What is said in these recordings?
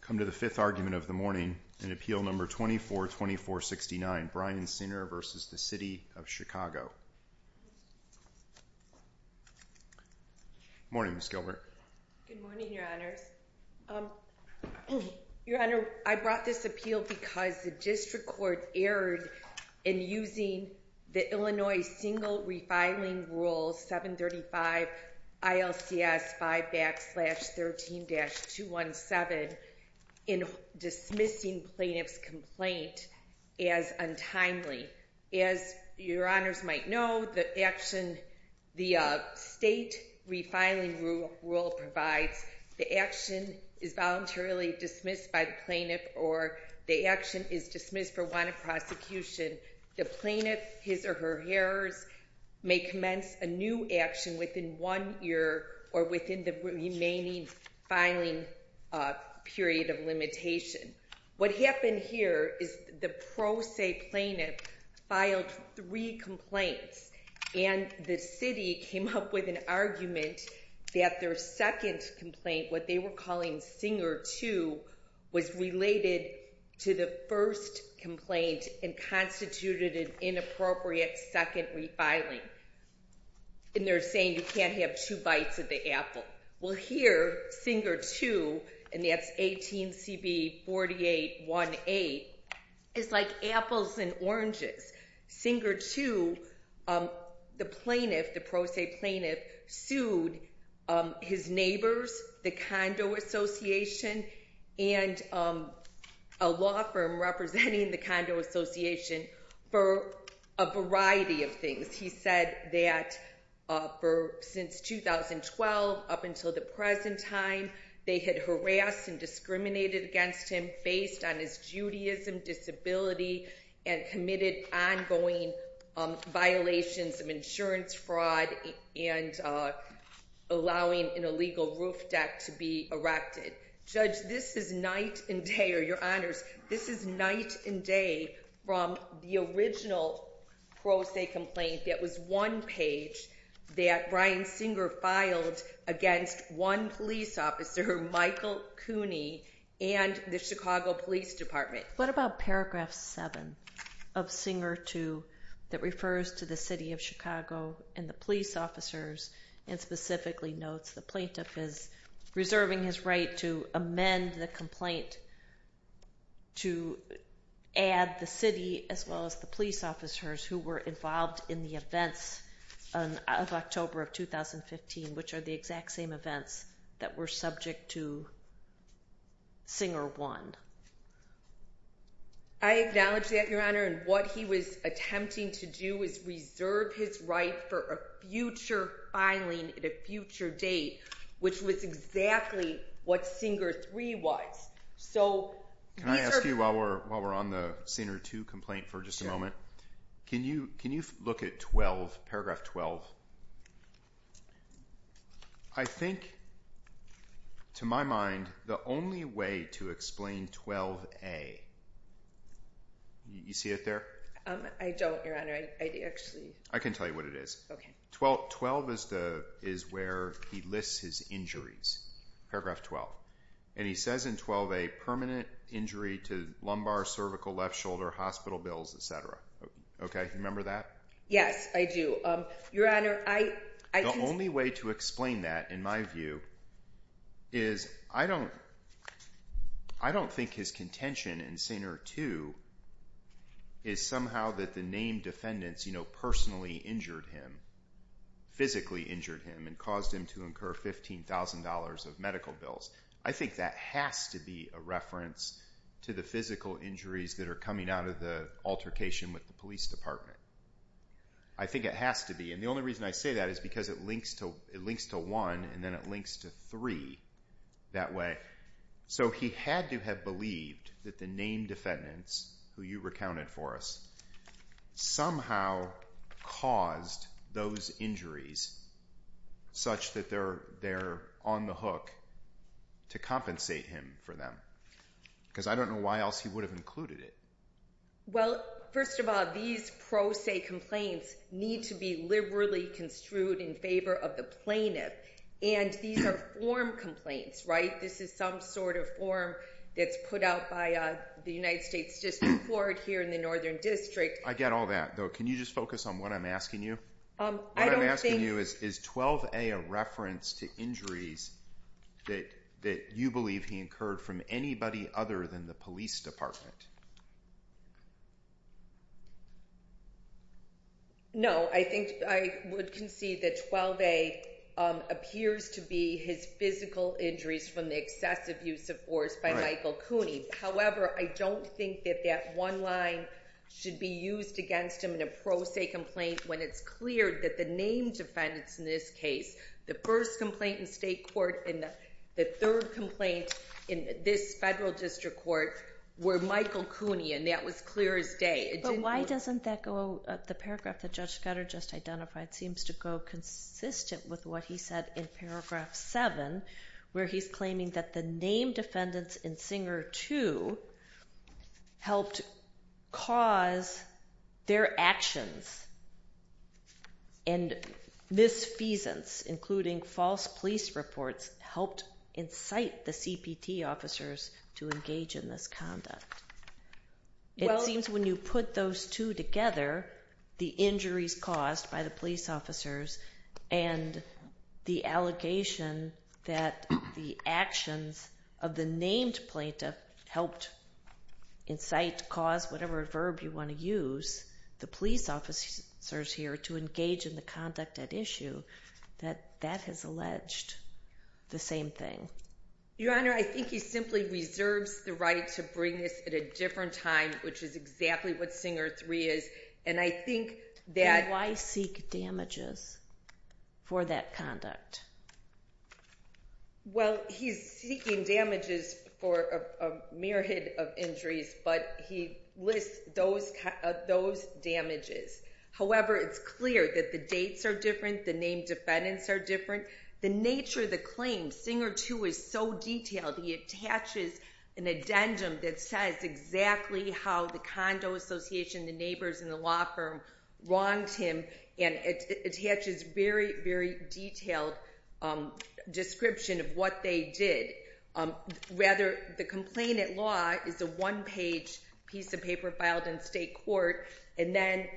Good morning, Ms. Gilbert. Good morning, Your Honors. Your Honor, I brought this appeal because the district court erred in using the Illinois single refiling rule 735 ILCS 5 backslash 13-217 in dismissing plaintiff's complaint as untimely. As Your Honors might know, the action, the state refiling rule provides the action is voluntarily dismissed by the plaintiff or the action is dismissed for want of prosecution. The plaintiff, his or her errors may commence a new action within one year or within the remaining filing period of limitation. What happened here is the pro se plaintiff filed three complaints and the city came up with an argument that their second complaint, what they were calling Singer 2, was related to the first complaint and constituted an inappropriate second refiling. And they're saying you can't have two bites of the apple. Well here, Singer 2, and that's the pro se plaintiff, sued his neighbors, the Condo Association, and a law firm representing the Condo Association for a variety of things. He said that since 2012 up until the present time they had harassed and discriminated against him based on his Judaism disability and committed ongoing violations of insurance fraud and allowing an illegal roof deck to be erected. Judge, this is night and day, or Your Honors, this is night and day from the original pro se complaint that was one page that Brian Singer filed against one police officer, Michael Cooney, and the Chicago Police Department. What about paragraph 7 of Singer 2 that refers to the city of Chicago and the police officers and specifically notes the plaintiff is reserving his right to amend the complaint to add the city as well as the police officers who were involved in the events of October of 2015, which are the exact same events that were subject to Singer 1. I acknowledge that, Your Honor, and what he was attempting to do was reserve his right for a future filing at a future date, which was exactly what Singer 3 was. Can I ask you while we're on the Singer 2 complaint for just a moment, can you look at paragraph 12? I think, to my mind, the only way to explain 12A, you see it there? I don't, Your Honor. I can tell you what it is. 12 is where he lists his injuries, paragraph 12, and he says in 12A, permanent injury to lumbar, cervical, left shoulder, hospital bills, etc. Remember that? Yes, I do. The only way to explain that, in my view, is I don't think his contention in Singer 2 is somehow that the named defendants personally injured him, physically injured him, and caused him to incur $15,000 of medical bills. I think that has to be a reference to the physical injuries that are coming out of the altercation with the police department. I think it has to be, and the only reason I say that is because it links to 1 and then it links to 3 that way. So, he had to have believed that the named defendants, who you recounted for us, somehow caused those injuries such that they're on the hook to compensate him for them, because I don't know why else he would have included it. Well, first of all, these pro se complaints need to be liberally construed in favor of the plaintiff, and these are form complaints, right? This is some sort of form that's put out by the United States District Court here in the Northern District. I get all that, though. Can you just focus on what I'm asking you? What I'm asking you is, is 12A a reference to injuries that you believe he incurred from anybody other than the police department? No, I think I would concede that 12A appears to be his physical injuries from the excessive use of force by Michael Cooney. However, I don't think that that one line should be used against him in a pro se complaint when it's clear that the named defendants in this case, the first complaint in state court, and the third complaint in this federal district court were Michael Cooney, and that was clear as day. But why doesn't that go, the paragraph that Judge Scudder just identified seems to go consistent with what he said in paragraph 7, where he's claiming that the named defendants in Singer 2 helped cause their actions, and misfeasance, including false police reports, helped incite the CPT officers to engage in this conduct. It seems when you put those two together, the injuries caused by the police officers and the allegation that the actions of the named plaintiff helped incite, cause, whatever verb you want to use, the police officers here to engage in the conduct at issue, that that has alleged the same thing. Your Honor, I think he simply reserves the right to bring this at a different time, which is exactly what Singer 3 is, and I think that... Then why seek damages for that conduct? Well, he's seeking damages for a myriad of injuries, but he lists those damages. However, it's clear that the dates are different, the named defendants are different, the nature of the claim, Singer 2 is so detailed, he attaches an addendum that says exactly how the condo association, the neighbors, and the law firm wronged him, and it attaches this very, very detailed description of what they did. Rather, the complaint at law is a one-page piece of paper filed in state court, and then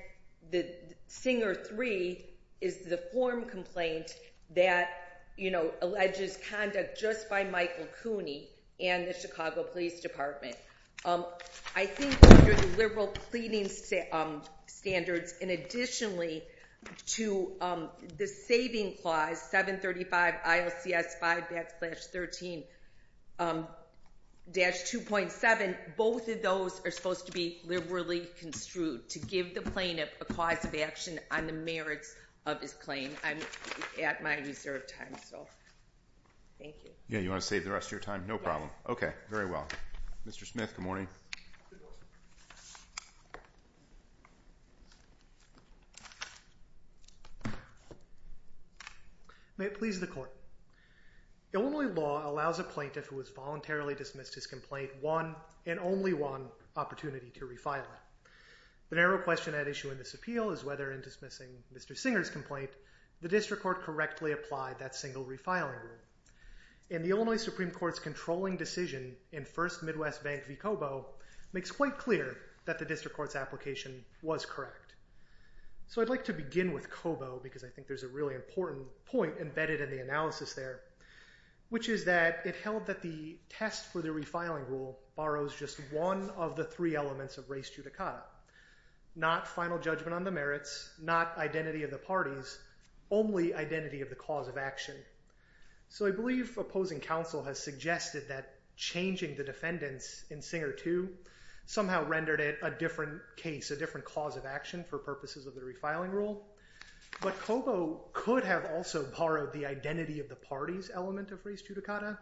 Singer 3 is the form complaint that alleges conduct just by Michael Cooney and the Chicago Police Department. I think under liberal pleading standards, and additionally to the saving clause, 735 ILCS 5-13-2.7, both of those are supposed to be liberally construed to give the plaintiff a cause of action on the merits of his claim. I'm at my reserved time, so thank you. Yeah, you want to save the rest of your time? No problem. Okay, very well. Mr. Smith, good morning. May it please the court. Illinois law allows a plaintiff who has voluntarily dismissed his complaint one, and only one, opportunity to refile it. The narrow question at issue in this appeal is whether in dismissing Mr. Singer's complaint, the district court correctly applied that single refiling rule. In the Illinois Supreme Court's controlling decision in First Midwest Bank v. Cobo makes quite clear that the district court's application was correct. So I'd like to begin with Cobo, because I think there's a really important point embedded in the analysis there, which is that it held that the test for the refiling rule borrows just one of the three elements of res judicata, not final judgment on the merits, not identity of the parties, only identity of the cause of action. So I believe opposing counsel has suggested that changing the defendants in Singer 2 somehow rendered it a different case, a different cause of action for purposes of the refiling rule. But Cobo could have also borrowed the identity of the parties element of res judicata,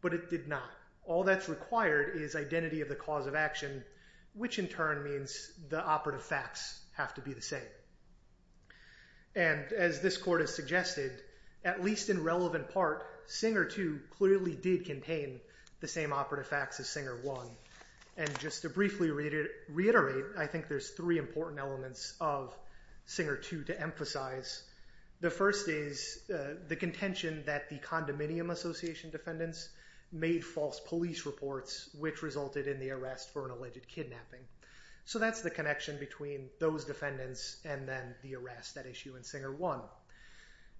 but it did not. All that's required is identity of the cause of action, which in turn means the operative facts have to be the same. And as this court has suggested, at least in relevant part, Singer 2 clearly did contain the same operative facts as Singer 1. And just to briefly reiterate, I think there's three important elements of Singer 2 to emphasize. The first is the contention that the condominium association defendants made false police reports, which resulted in the arrest for an alleged kidnapping. So that's the connection between those defendants and then the arrest, that issue in Singer 1.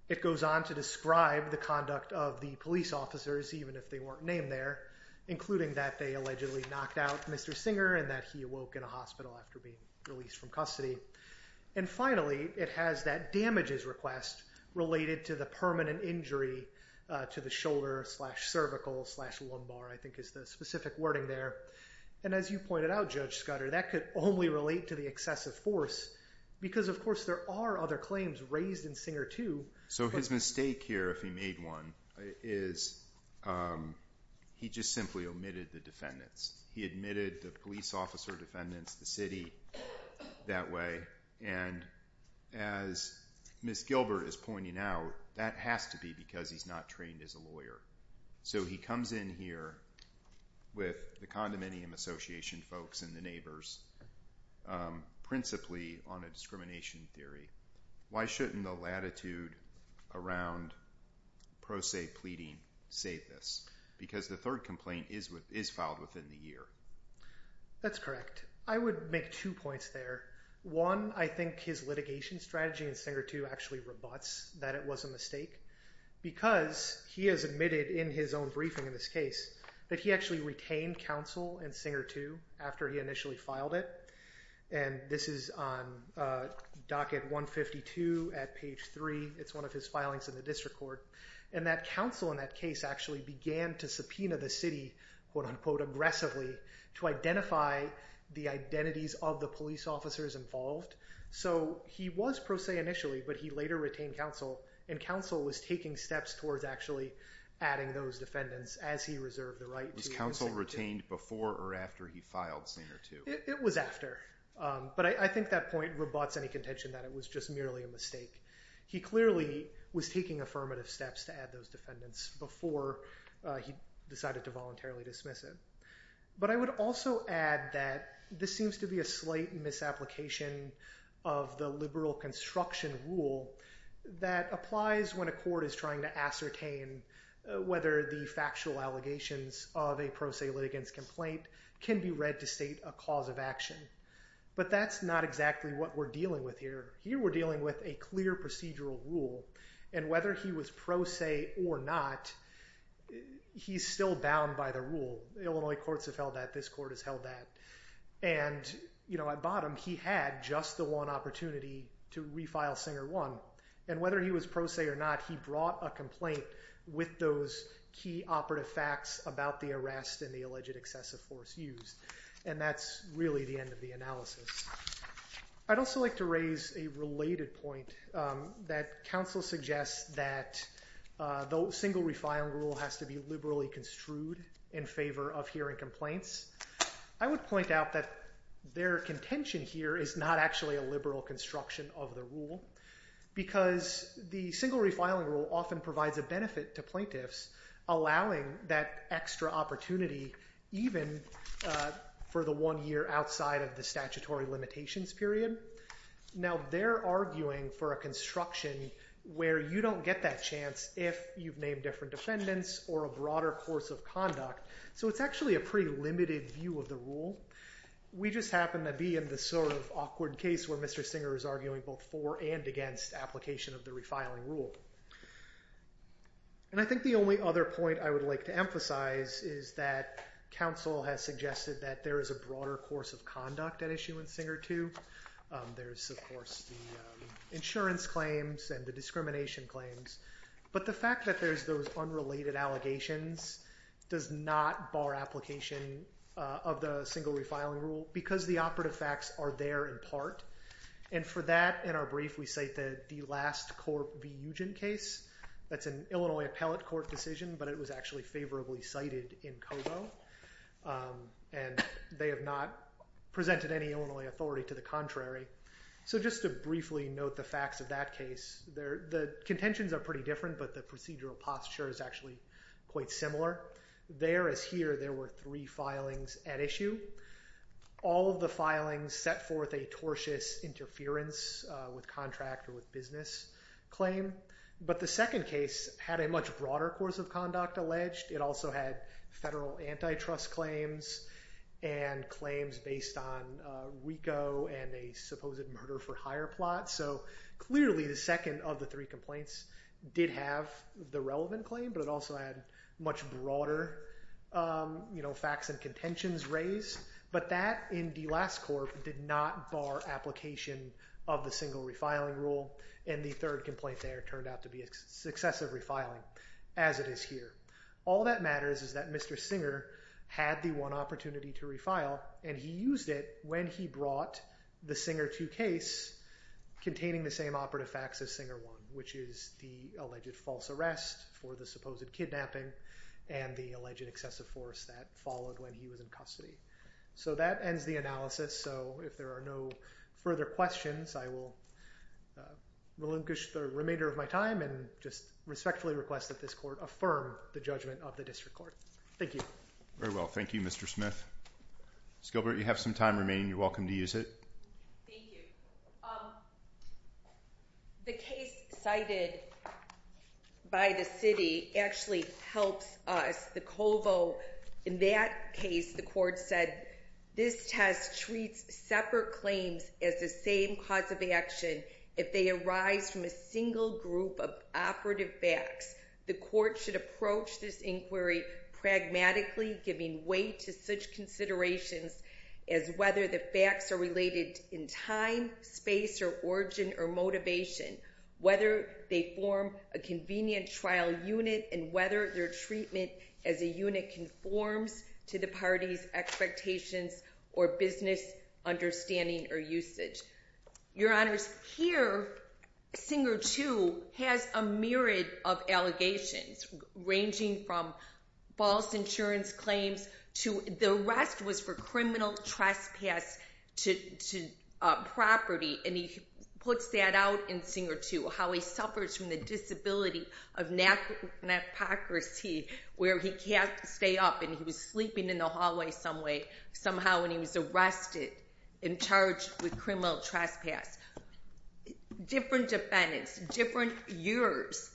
It goes on to describe the conduct of the police officers, even if they weren't named there, including that they allegedly knocked out Mr. Singer and that he awoke in a hospital after being released from custody. And finally, it has that damages request related to the permanent injury to the shoulder slash cervical slash lumbar, I think is the specific wording there. And as you pointed out, Judge Scudder, that could only relate to the excessive force, because of course there are other claims raised in Singer 2. So his mistake here, if he made one, is he just simply omitted the defendants. He admitted the police officer defendants, the city, that way. And as Ms. Gilbert is pointing out, that has to be because he's not trained as a lawyer. So he comes in here with the condominium association folks and the neighbors, principally on a discrimination theory. Why shouldn't the latitude around pro se pleading save this? Because the third complaint is filed within the year. That's correct. I would make two points there. One, I think his litigation strategy in Singer 2 actually rebuts that it was a mistake, because he has admitted in his own briefing in this case, that he actually retained counsel in Singer 2 after he initially filed it. And this is on docket 152 at page three. It's one of his filings in the district court. And that counsel in that case actually began to subpoena the city, quote unquote, aggressively, to identify the identities of the police officers involved. So he was pro se initially, but he later retained counsel, and counsel was taking steps towards actually adding those defendants as he reserved the right to. Was counsel retained before or after he filed Singer 2? It was after. But I think that point rebuts any contention that it was just merely a mistake. He clearly was taking affirmative steps to add those defendants before he decided to voluntarily dismiss it. But I would also add that this seems to be a slight misapplication of the liberal construction rule that applies when a court is trying to ascertain whether the factual allegations of a pro se litigants complaint can be read to state a cause of action. But that's not exactly what we're dealing with here. Here we're dealing with a clear procedural rule. And whether he was pro se or not, he's still bound by the rule. Illinois courts have held that. This court has held that. And at bottom, he had just the one opportunity to refile Singer 1. And whether he was pro se or not, he brought a complaint with those key operative facts about the arrest and the alleged excessive force used. And that's really the end of the analysis. I'd also like to raise a related point that counsel suggests that the single refiling rule has to be liberally construed in favor of hearing complaints. I would point out that their contention here is not actually a liberal construction of the rule. Because the single refiling rule often provides a benefit to plaintiffs, allowing that extra opportunity even for the one year outside of the statutory limitations period. Now, they're arguing for construction where you don't get that chance if you've named different defendants or a broader course of conduct. So it's actually a pretty limited view of the rule. We just happen to be in this sort of awkward case where Mr. Singer is arguing both for and against application of the refiling rule. And I think the only other point I would like to emphasize is that counsel has suggested that there is a broader course of conduct at issue in Singer too. There's, of course, the insurance claims and the discrimination claims. But the fact that there's those unrelated allegations does not bar application of the single refiling rule because the operative facts are there in part. And for that, in our brief, we cite that the last court case, that's an Illinois appellate court decision, but it was actually favorably cited in Cobo. And they have not presented any Illinois authority to the contrary. So just to briefly note the facts of that case, the contentions are pretty different, but the procedural posture is actually quite similar. There is here, there were three filings at issue. All of the filings set forth a tortious interference with contract or with business claim. But the second case had a much broader course of conduct alleged. It also had federal antitrust claims and claims based on WICO and a supposed murder for hire plot. So clearly the second of the three complaints did have the relevant claim, but it also had much broader facts and contentions raised. But that in the last court did not bar application of the single refiling rule. And the third complaint there turned out to be excessive refiling as it is here. All that matters is that Mr. Singer had the one opportunity to refile and he used it when he brought the Singer two case containing the same operative facts as Singer one, which is the alleged false arrest for the supposed kidnapping and the alleged excessive force that followed when he was in custody. So that ends the analysis. So if there are no further questions, I will relinquish the remainder of my time and just respectfully request that this court affirm the judgment of the district court. Thank you. Very well. Thank you, Mr. Smith. Ms. Gilbert, you have some time remaining. You're welcome to use it. Thank you. Um, the case cited by the city actually helps us. The COVO in that case, the court said this test treats separate claims as the same cause of action. If they arise from a single group of operative facts, the court should approach this inquiry pragmatically, giving way to such considerations as whether the facts are related in time space or origin or motivation, whether they form a convenient trial unit and whether their treatment as a unit conforms to the party's expectations or business understanding or usage. Your honors here, Singer two has a myriad of allegations ranging from false insurance claims to the rest was for criminal trespass to, uh, property. And he puts that out in Singer to how he suffers from the disability of natural hypocrisy, where he can't stay up and he was sleeping in the hallway some way, somehow, and he was arrested and charged with criminal trespass, different defendants, different years,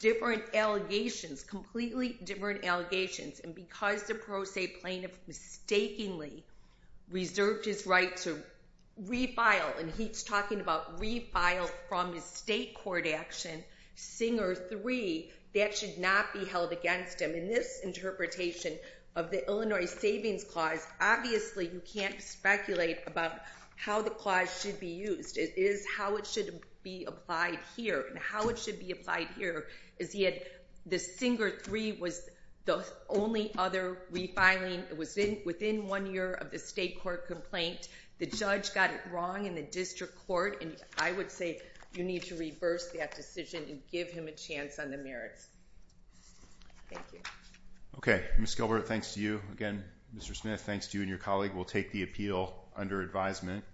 different allegations, completely different allegations. And because the pro se plaintiff mistakenly reserved his right to refile, and he's talking about refile from his state court action, Singer three, that should not be held against him. In this interpretation of the Illinois Savings Clause, obviously you can't speculate about how the clause should be used. It is how it should be applied here and how it should be applied here is he had the Singer three was the only other refiling. It was within one year of the state court complaint. The judge got it wrong in the district court, and I would say you need to reverse that decision and give him a chance on the merits. Thank you. Okay, Miss Gilbert. Thanks to you again, Mr Smith. Thanks to you and your colleague. We'll take the appeal under advisement.